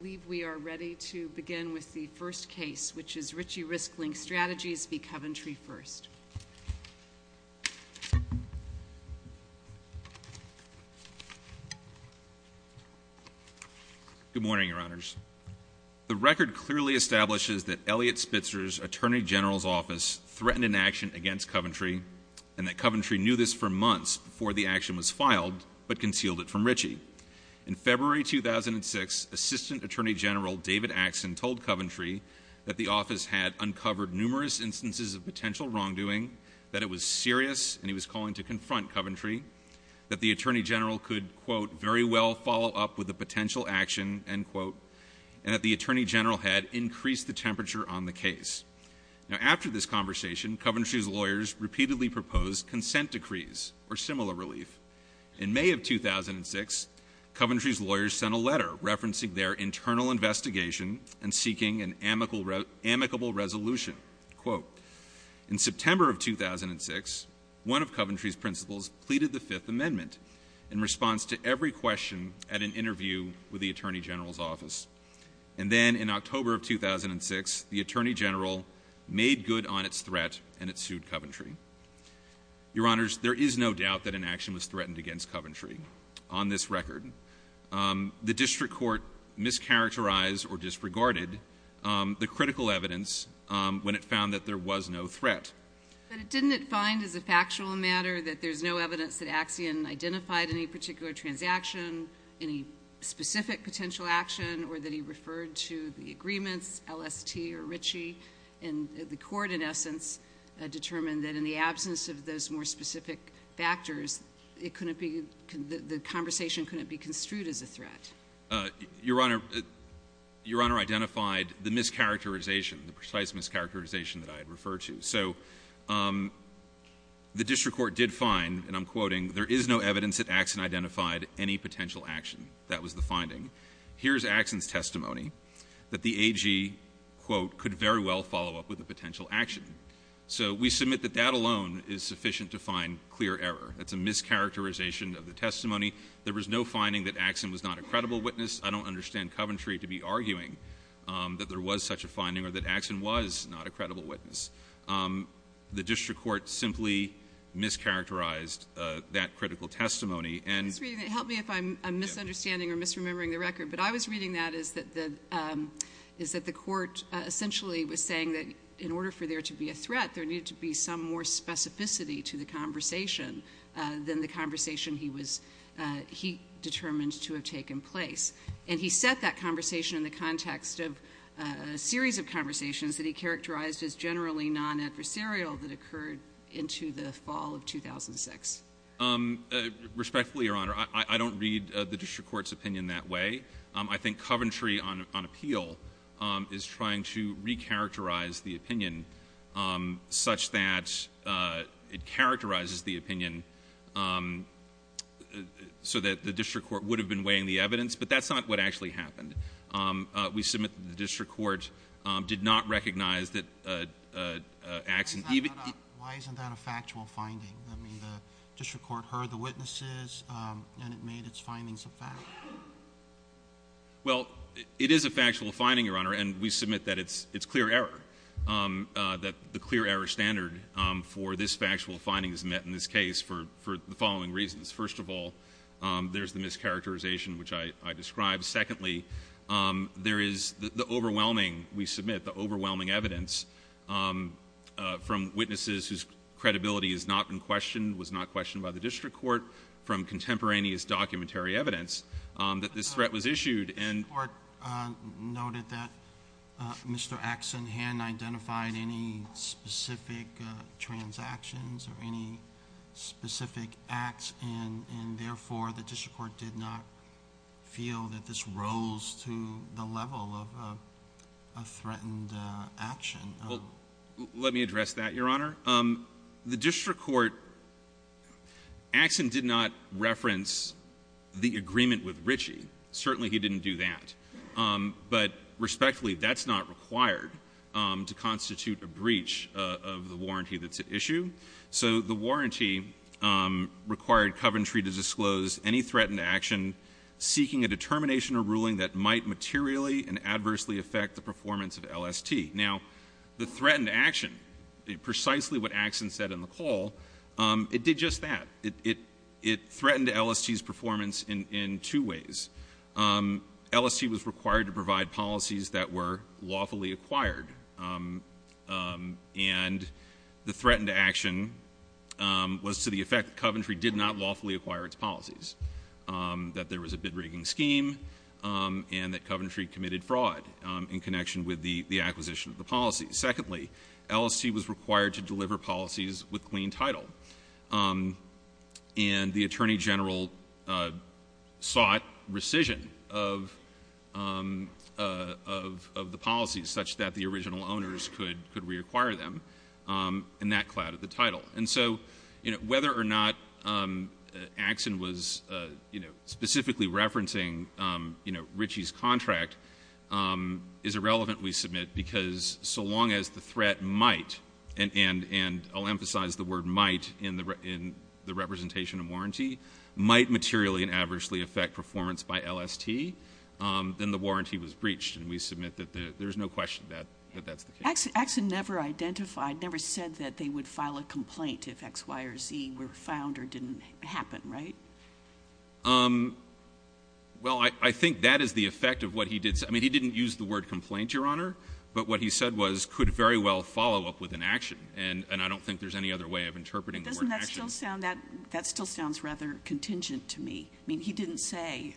I believe we are ready to begin with the first case, which is Ritchie Risk-Linked Strategies v. Coventry First. Good morning, Your Honors. The record clearly establishes that Elliot Spitzer's Attorney General's Office threatened an action against Coventry, and that Coventry knew this for months before the action was filed, but concealed it from Ritchie. In February 2006, Assistant Attorney General David Axson told Coventry that the office had uncovered numerous instances of potential wrongdoing, that it was serious and he was calling to confront Coventry, that the Attorney General could, quote, very well follow up with a potential action, end quote, and that the Attorney General had increased the temperature on the case. Now, after this conversation, Coventry's lawyers repeatedly proposed consent decrees or similar relief. In May of 2006, Coventry's lawyers sent a letter referencing their internal investigation and seeking an amicable resolution, quote, In September of 2006, one of Coventry's principals pleaded the Fifth Amendment in response to every question at an interview with the Attorney General's Office. And then in October of 2006, the Attorney General made good on its threat and it sued Coventry. Your Honors, there is no doubt that an action was threatened against Coventry on this record. The district court mischaracterized or disregarded the critical evidence when it found that there was no threat. But didn't it find as a factual matter that there's no evidence that Axsion identified any particular transaction, any specific potential action, or that he referred to the agreements, LST or Ritchie, and the court, in essence, determined that in the absence of those more specific factors, the conversation couldn't be construed as a threat? Your Honor, your Honor identified the mischaracterization, the precise mischaracterization that I had referred to. So the district court did find, and I'm quoting, There is no evidence that Axsion identified any potential action. That was the finding. Here's Axsion's testimony that the AG, quote, could very well follow up with a potential action. So we submit that that alone is sufficient to find clear error. That's a mischaracterization of the testimony. There was no finding that Axsion was not a credible witness. I don't understand Coventry to be arguing that there was such a finding or that Axsion was not a credible witness. The district court simply mischaracterized that critical testimony and Help me if I'm misunderstanding or misremembering the record, but I was reading that as that the court essentially was saying that in order for there to be a threat, there needed to be some more specificity to the conversation than the conversation he determined to have taken place. And he set that conversation in the context of a series of conversations that he characterized as generally non-adversarial that occurred into the fall of 2006. Respectfully, Your Honor, I don't read the district court's opinion that way. I think Coventry on appeal is trying to recharacterize the opinion such that it characterizes the opinion so that the district court would have been weighing the evidence, but that's not what actually happened. We submit that the district court did not recognize that Axsion even Why isn't that a factual finding? I mean, the district court heard the witnesses and it made its findings a fact. Well, it is a factual finding, Your Honor, and we submit that it's clear error, that the clear error standard for this factual finding is met in this case for the following reasons. First of all, there's the mischaracterization, which I described. Secondly, there is the overwhelming, we submit, the overwhelming evidence from witnesses whose credibility is not in question, was not questioned by the district court, from contemporaneous documentary evidence that this threat was issued. The district court noted that Mr. Axsion hadn't identified any specific transactions or any specific acts, and therefore, the district court did not feel that this rose to the level of a threatened action. Well, let me address that, Your Honor. The district court, Axsion did not reference the agreement with Ritchie. Certainly, he didn't do that, but respectfully, that's not required to constitute a breach of the warranty that's at issue. So the warranty required Coventry to disclose any threatened action seeking a determination or ruling that might materially and adversely affect the performance of LST. Now, the threatened action, precisely what Axsion said in the call, it did just that. It threatened LST's performance in two ways. LST was required to provide policies that were lawfully acquired, and the threatened action was to the effect that Coventry did not lawfully acquire its policies, that there was a bid-rigging scheme, and that Coventry committed fraud in connection with the acquisition of the policy. Secondly, LST was required to deliver policies with clean title, and the attorney general sought rescission of the policies such that the original owners could reacquire them, and that clouded the title. And so whether or not Axsion was specifically referencing Ritchie's contract is irrelevant, we submit, because so long as the threat might, and I'll emphasize the word might in the representation of warranty, might materially and adversely affect performance by LST, then the warranty was breached, and we submit that there's no question that that's the case. Axsion never identified, never said that they would file a complaint if X, Y, or Z were found or didn't happen, right? Well, I think that is the effect of what he did. I mean, he didn't use the word complaint, Your Honor, but what he said was could very well follow up with an action, and I don't think there's any other way of interpreting the word action. Doesn't that still sound rather contingent to me? I mean, he didn't say,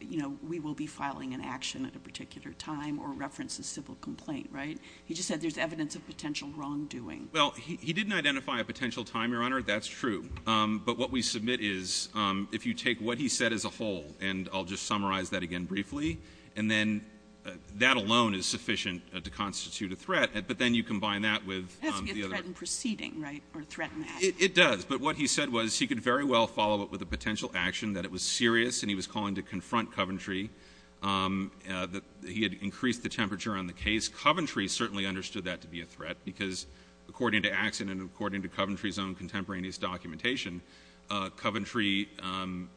you know, we will be filing an action at a particular time or reference a civil complaint, right? He just said there's evidence of potential wrongdoing. Well, he didn't identify a potential time, Your Honor, that's true. But what we submit is if you take what he said as a whole, and I'll just summarize that again briefly, and then that alone is sufficient to constitute a threat, but then you combine that with the other. It has to be a threat in proceeding, right, or a threat in action. It does, but what he said was he could very well follow up with a potential action, that it was serious and he was calling to confront Coventry, that he had increased the temperature on the case. Coventry certainly understood that to be a threat because, according to Axsion and according to Coventry's own contemporaneous documentation, Coventry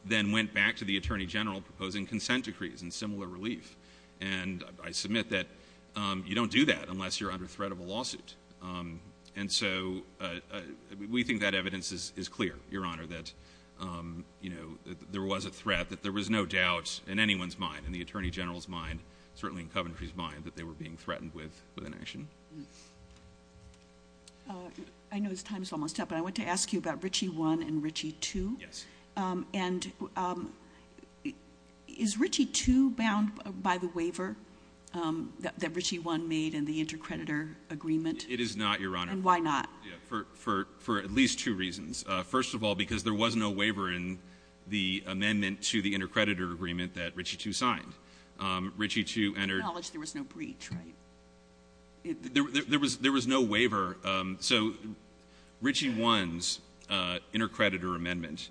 then went back to the Attorney General proposing consent decrees and similar relief. And I submit that you don't do that unless you're under threat of a lawsuit. And so we think that evidence is clear, Your Honor, that, you know, there was a threat, that there was no doubt in anyone's mind, in the Attorney General's mind, certainly in Coventry's mind, that they were being threatened with an action. I know his time is almost up, but I want to ask you about Ritchie I and Ritchie II. Yes. And is Ritchie II bound by the waiver that Ritchie I made in the intercreditor agreement? It is not, Your Honor. And why not? For at least two reasons. First of all, because there was no waiver in the amendment to the intercreditor agreement that Ritchie II signed. Ritchie II entered — Acknowledge there was no breach, right? There was no waiver. So Ritchie I's intercreditor amendment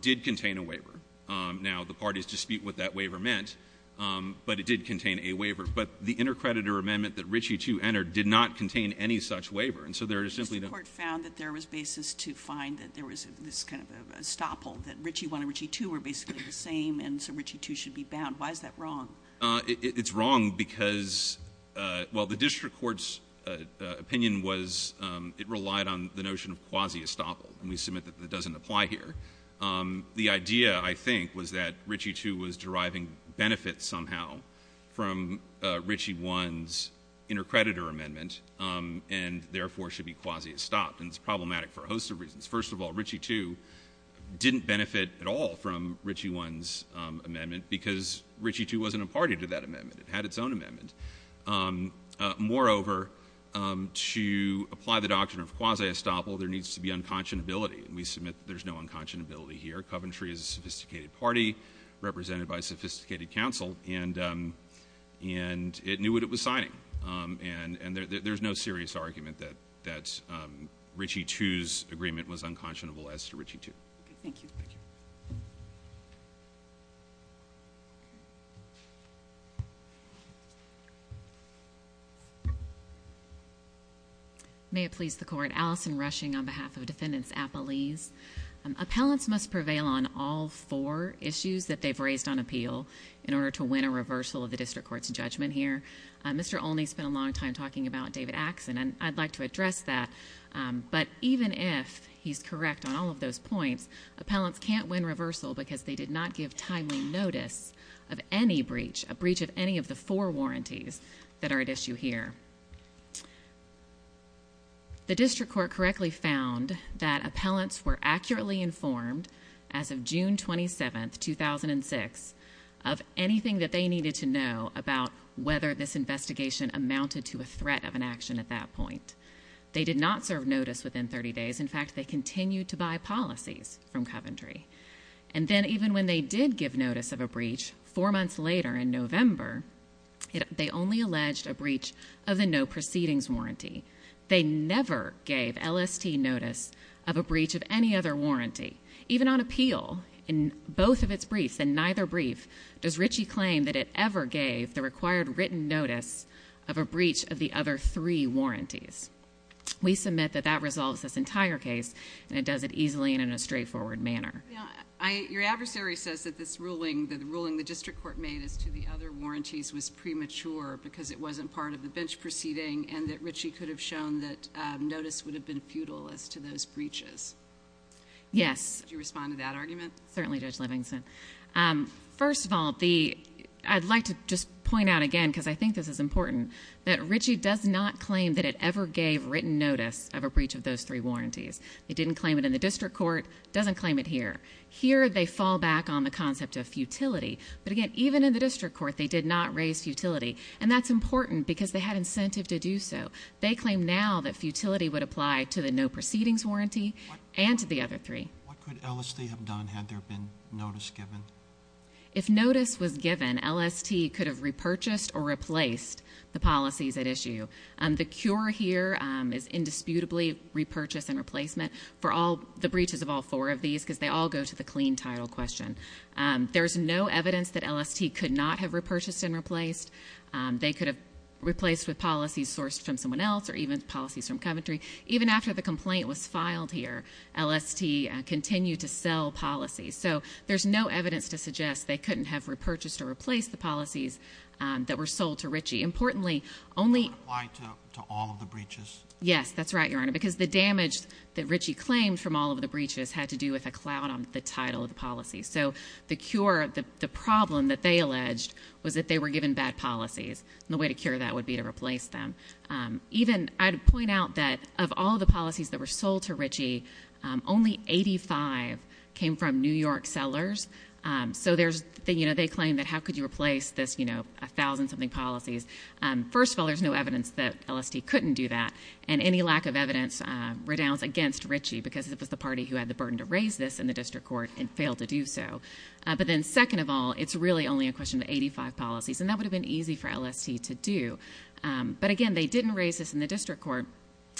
did contain a waiver. Now, the parties dispute what that waiver meant, but it did contain a waiver. But the intercreditor amendment that Ritchie II entered did not contain any such waiver. And so there is simply no — The Supreme Court found that there was basis to find that there was this kind of a stopple, that Ritchie I and Ritchie II were basically the same, and so Ritchie II should be bound. Why is that wrong? It's wrong because — well, the district court's opinion was it relied on the notion of quasi-stopple. And we submit that that doesn't apply here. The idea, I think, was that Ritchie II was deriving benefits somehow from Ritchie I's intercreditor amendment and therefore should be quasi-stopped. And it's problematic for a host of reasons. First of all, Ritchie II didn't benefit at all from Ritchie I's amendment because Ritchie II wasn't a party to that amendment. It had its own amendment. Moreover, to apply the doctrine of quasi-stopple, there needs to be unconscionability. And we submit that there's no unconscionability here. Coventry is a sophisticated party represented by a sophisticated counsel, and it knew what it was signing. And there's no serious argument that Ritchie II's agreement was unconscionable as to Ritchie II. Thank you. May it please the Court. Allison Rushing on behalf of Defendants Appellees. Appellants must prevail on all four issues that they've raised on appeal in order to win a reversal of the district court's judgment here. Mr. Olney spent a long time talking about David Axon, and I'd like to address that. But even if he's correct on all of those points, appellants can't win reversal because they did not give timely notice of any breach, a breach of any of the four warranties that are at issue here. The district court correctly found that appellants were accurately informed as of June 27, 2006, of anything that they needed to know about whether this investigation amounted to a threat of an action at that point. They did not serve notice within 30 days. In fact, they continued to buy policies from Coventry. And then even when they did give notice of a breach four months later in November, they only alleged a breach of the no proceedings warranty. They never gave LST notice of a breach of any other warranty. Even on appeal, in both of its briefs and neither brief, does Ritchie claim that it ever gave the required written notice of a breach of the other three warranties. We submit that that resolves this entire case, and it does it easily and in a straightforward manner. Your adversary says that the ruling the district court made as to the other warranties was premature because it wasn't part of the bench proceeding and that Ritchie could have shown that notice would have been futile as to those breaches. Yes. Would you respond to that argument? Certainly, Judge Livingston. First of all, I'd like to just point out again, because I think this is important, that Ritchie does not claim that it ever gave written notice of a breach of those three warranties. It didn't claim it in the district court. It doesn't claim it here. Here, they fall back on the concept of futility. But again, even in the district court, they did not raise futility, and that's important because they had incentive to do so. They claim now that futility would apply to the no proceedings warranty and to the other three. What could LST have done had there been notice given? If notice was given, LST could have repurchased or replaced the policies at issue. The cure here is indisputably repurchase and replacement for the breaches of all four of these because they all go to the clean title question. There is no evidence that LST could not have repurchased and replaced. They could have replaced with policies sourced from someone else or even policies from Coventry. Even after the complaint was filed here, LST continued to sell policies. So there's no evidence to suggest they couldn't have repurchased or replaced the policies that were sold to Ritchie. Importantly, only— It would apply to all of the breaches? Yes, that's right, Your Honor, because the damage that Ritchie claimed from all of the breaches had to do with a cloud on the title of the policies. So the cure, the problem that they alleged was that they were given bad policies, and the way to cure that would be to replace them. I'd point out that of all the policies that were sold to Ritchie, only 85 came from New York sellers. So they claim that how could you replace this 1,000-something policies? First of all, there's no evidence that LST couldn't do that, and any lack of evidence redounds against Ritchie because it was the party who had the burden to raise this in the district court and failed to do so. But then second of all, it's really only a question of 85 policies, and that would have been easy for LST to do. But again, they didn't raise this in the district court.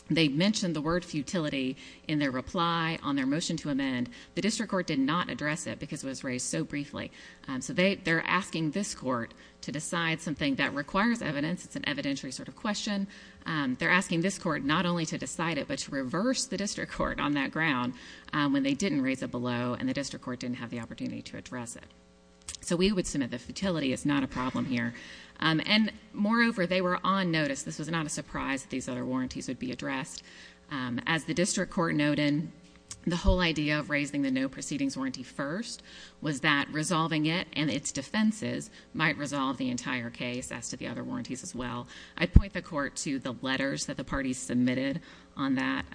They mentioned the word futility in their reply on their motion to amend. The district court did not address it because it was raised so briefly. So they're asking this court to decide something that requires evidence. It's an evidentiary sort of question. They're asking this court not only to decide it but to reverse the district court on that ground when they didn't raise it below and the district court didn't have the opportunity to address it. So we would submit that futility is not a problem here. And moreover, they were on notice. This was not a surprise that these other warranties would be addressed. As the district court noted, the whole idea of raising the no-proceedings warranty first was that resolving it and its defenses might resolve the entire case as to the other warranties as well. I'd point the court to the letters that the parties submitted on that.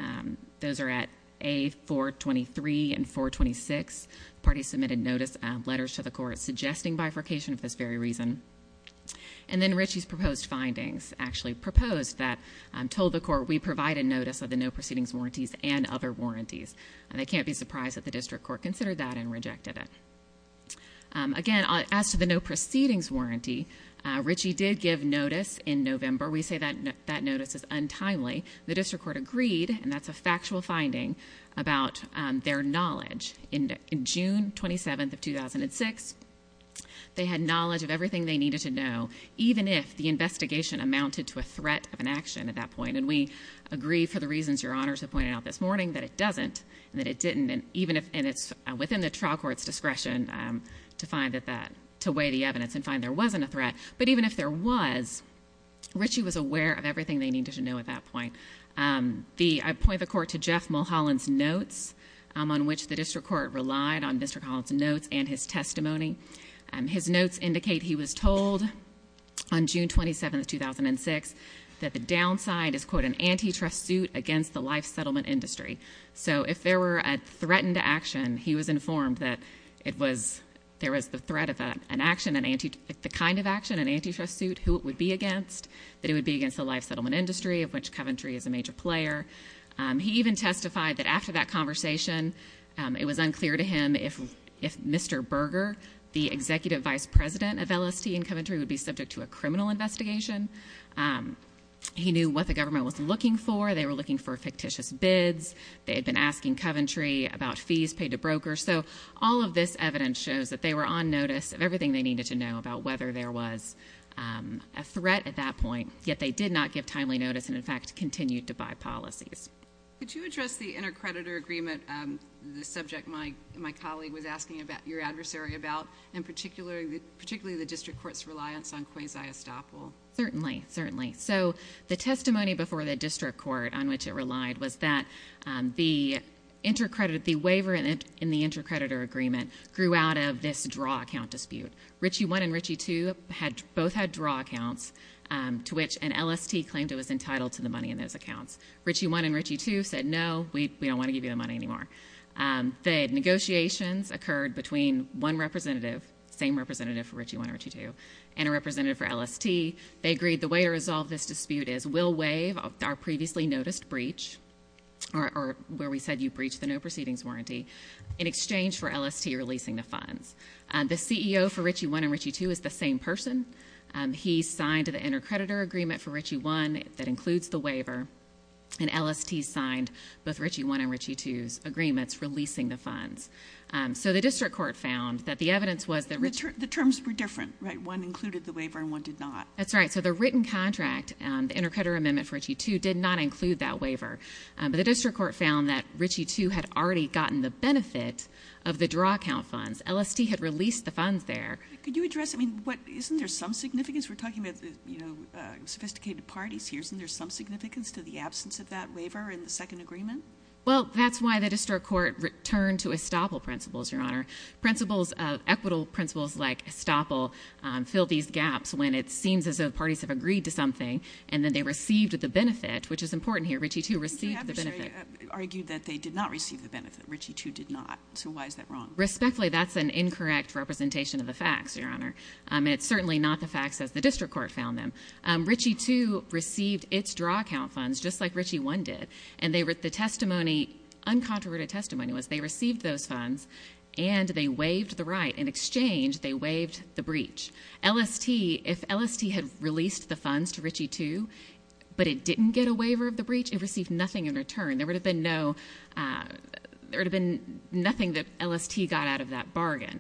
Those are at A423 and 426. The parties submitted notice letters to the court suggesting bifurcation for this very reason. And then Richie's proposed findings actually proposed that, told the court, we provide a notice of the no-proceedings warranties and other warranties. They can't be surprised that the district court considered that and rejected it. Again, as to the no-proceedings warranty, Richie did give notice in November. We say that notice is untimely. The district court agreed, and that's a factual finding, about their knowledge. In June 27th of 2006, they had knowledge of everything they needed to know, even if the investigation amounted to a threat of an action at that point. And we agree, for the reasons Your Honors have pointed out this morning, that it doesn't and that it didn't. And it's within the trial court's discretion to weigh the evidence and find there wasn't a threat. But even if there was, Richie was aware of everything they needed to know at that point. I'd point the court to Jeff Mulholland's notes, on which the district court relied, on Mr. Mullholland's notes and his testimony. His notes indicate he was told on June 27th, 2006, that the downside is, quote, an antitrust suit against the life settlement industry. So if there were a threatened action, he was informed that there was the threat of an action, the kind of action, an antitrust suit, who it would be against, that it would be against the life settlement industry, of which Coventry is a major player. He even testified that after that conversation, it was unclear to him if Mr. Berger, the executive vice president of LST in Coventry, would be subject to a criminal investigation. He knew what the government was looking for. They were looking for fictitious bids. They had been asking Coventry about fees paid to brokers. So all of this evidence shows that they were on notice of everything they needed to know about whether there was a threat at that point, yet they did not give timely notice and, in fact, continued to buy policies. Could you address the intercreditor agreement, the subject my colleague was asking your adversary about, and particularly the district court's reliance on quasi-estoppel? Certainly, certainly. So the testimony before the district court on which it relied was that the waiver in the intercreditor agreement grew out of this draw account dispute. Ritchie 1 and Ritchie 2 both had draw accounts to which an LST claimed it was entitled to the money in those accounts. Ritchie 1 and Ritchie 2 said, no, we don't want to give you the money anymore. The negotiations occurred between one representative, same representative for Ritchie 1 and Ritchie 2, and a representative for LST. They agreed the way to resolve this dispute is we'll waive our previously noticed breach, or where we said you breached the no proceedings warranty, in exchange for LST releasing the funds. The CEO for Ritchie 1 and Ritchie 2 is the same person. He signed the intercreditor agreement for Ritchie 1 that includes the waiver, and LST signed both Ritchie 1 and Ritchie 2's agreements releasing the funds. So the district court found that the evidence was that Ritchie – The terms were different, right? One included the waiver and one did not. That's right. So the written contract, the intercreditor amendment for Ritchie 2, did not include that waiver. But the district court found that Ritchie 2 had already gotten the benefit of the draw account funds. LST had released the funds there. Could you address – I mean, isn't there some significance? We're talking about sophisticated parties here. Isn't there some significance to the absence of that waiver in the second agreement? Well, that's why the district court returned to estoppel principles, Your Honor. Equitable principles like estoppel fill these gaps when it seems as though the parties have agreed to something and then they received the benefit, which is important here. Ritchie 2 received the benefit. Your adversary argued that they did not receive the benefit. Ritchie 2 did not. So why is that wrong? Respectfully, that's an incorrect representation of the facts, Your Honor. It's certainly not the facts as the district court found them. Ritchie 2 received its draw account funds just like Ritchie 1 did. And the testimony, uncontroverted testimony, was they received those funds and they waived the right. In exchange, they waived the breach. LST, if LST had released the funds to Ritchie 2 but it didn't get a waiver of the breach, it received nothing in return. There would have been no – there would have been nothing that LST got out of that bargain.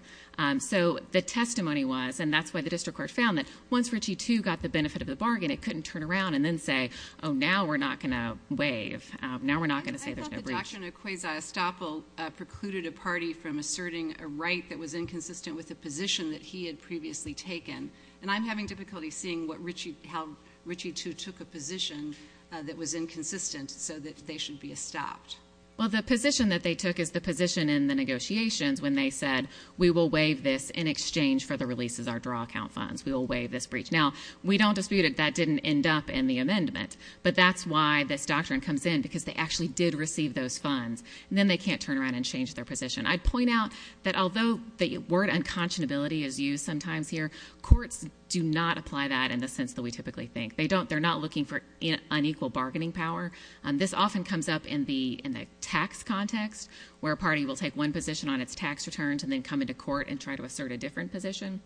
So the testimony was, and that's why the district court found that once Ritchie 2 got the benefit of the bargain, it couldn't turn around and then say, oh, now we're not going to waive. Now we're not going to say there's no breach. I thought the doctrine of quasi-estoppel precluded a party from asserting a right that was inconsistent with a position that he had previously taken. And I'm having difficulty seeing what Ritchie – how Ritchie 2 took a position that was inconsistent so that they should be estopped. Well, the position that they took is the position in the negotiations when they said, we will waive this in exchange for the releases of our draw account funds. We will waive this breach. Now, we don't dispute it. That didn't end up in the amendment. But that's why this doctrine comes in, because they actually did receive those funds. And then they can't turn around and change their position. I'd point out that although the word unconscionability is used sometimes here, courts do not apply that in the sense that we typically think. They don't – they're not looking for unequal bargaining power. This often comes up in the tax context, where a party will take one position on its tax returns and then come into court and try to assert a different position.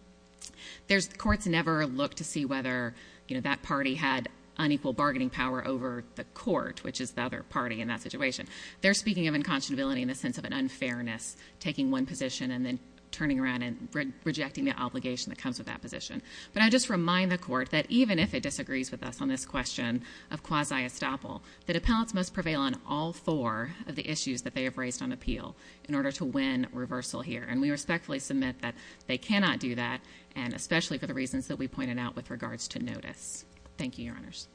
There's – courts never look to see whether, you know, that party had unequal bargaining power over the court, which is the other party in that situation. They're speaking of unconscionability in the sense of an unfairness, taking one position and then turning around and rejecting the obligation that comes with that position. But I just remind the Court that even if it disagrees with us on this question of quasi-estoppel, that appellants must prevail on all four of the issues that they have raised on appeal in order to win reversal here. And we respectfully submit that they cannot do that, and especially for the reasons that we pointed out with regards to notice. Thank you, Your Honors.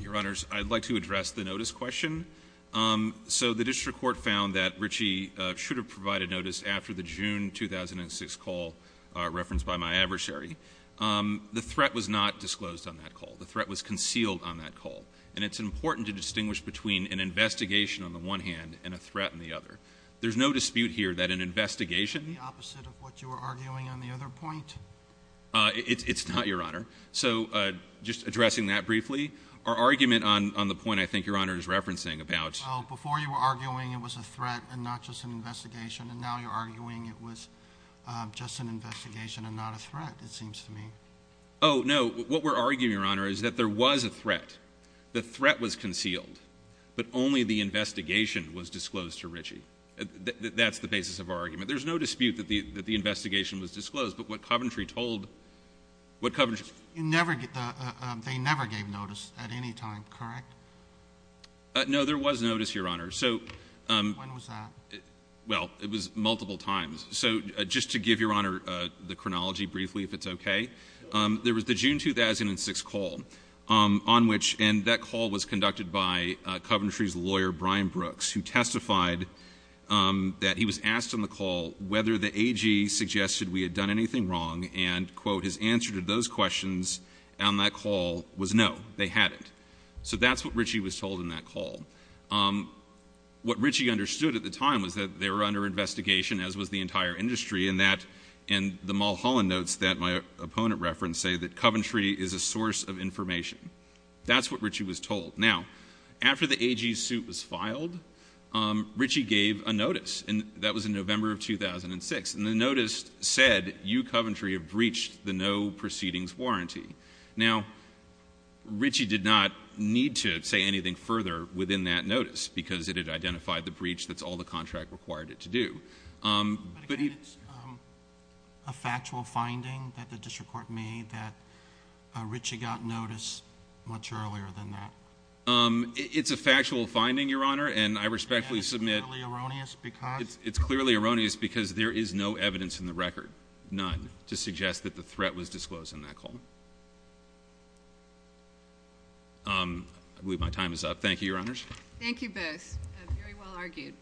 Your Honors, I'd like to address the notice question. So the district court found that Ritchie should have provided notice after the June 2006 call referenced by my adversary. The threat was not disclosed on that call. The threat was concealed on that call. And it's important to distinguish between an investigation on the one hand and a threat on the other. There's no dispute here that an investigation — Isn't that the opposite of what you were arguing on the other point? It's not, Your Honor. So just addressing that briefly. Our argument on the point I think Your Honor is referencing about — Well, before you were arguing it was a threat and not just an investigation, and now you're arguing it was just an investigation and not a threat, it seems to me. Oh, no. What we're arguing, Your Honor, is that there was a threat. The threat was concealed. But only the investigation was disclosed to Ritchie. That's the basis of our argument. There's no dispute that the investigation was disclosed. But what Coventry told — what Coventry — They never gave notice at any time, correct? No. There was notice, Your Honor. So — When was that? Well, it was multiple times. So just to give Your Honor the chronology briefly, if it's okay. There was the June 2006 call on which — and that call was conducted by Coventry's lawyer, Brian Brooks, who testified that he was asked on the call whether the AG suggested we had done anything wrong, and, quote, his answer to those questions on that call was, no, they hadn't. So that's what Ritchie was told in that call. What Ritchie understood at the time was that they were under investigation, as was the entire industry, and that — and the Mulholland notes that my opponent referenced say that Coventry is a source of information. That's what Ritchie was told. Now, after the AG's suit was filed, Ritchie gave a notice, and that was in November of 2006. And the notice said, you, Coventry, have breached the no proceedings warranty. Now, Ritchie did not need to say anything further within that notice because it had identified the breach. That's all the contract required it to do. But he — But again, it's a factual finding that the district court made that Ritchie got notice much earlier than that. It's a factual finding, Your Honor, and I respectfully submit — And that's clearly erroneous because — It's clearly erroneous because there is no evidence in the record, none, to suggest that the threat was disclosed in that call. I believe my time is up. Thank you, Your Honors. Thank you both. Very well argued.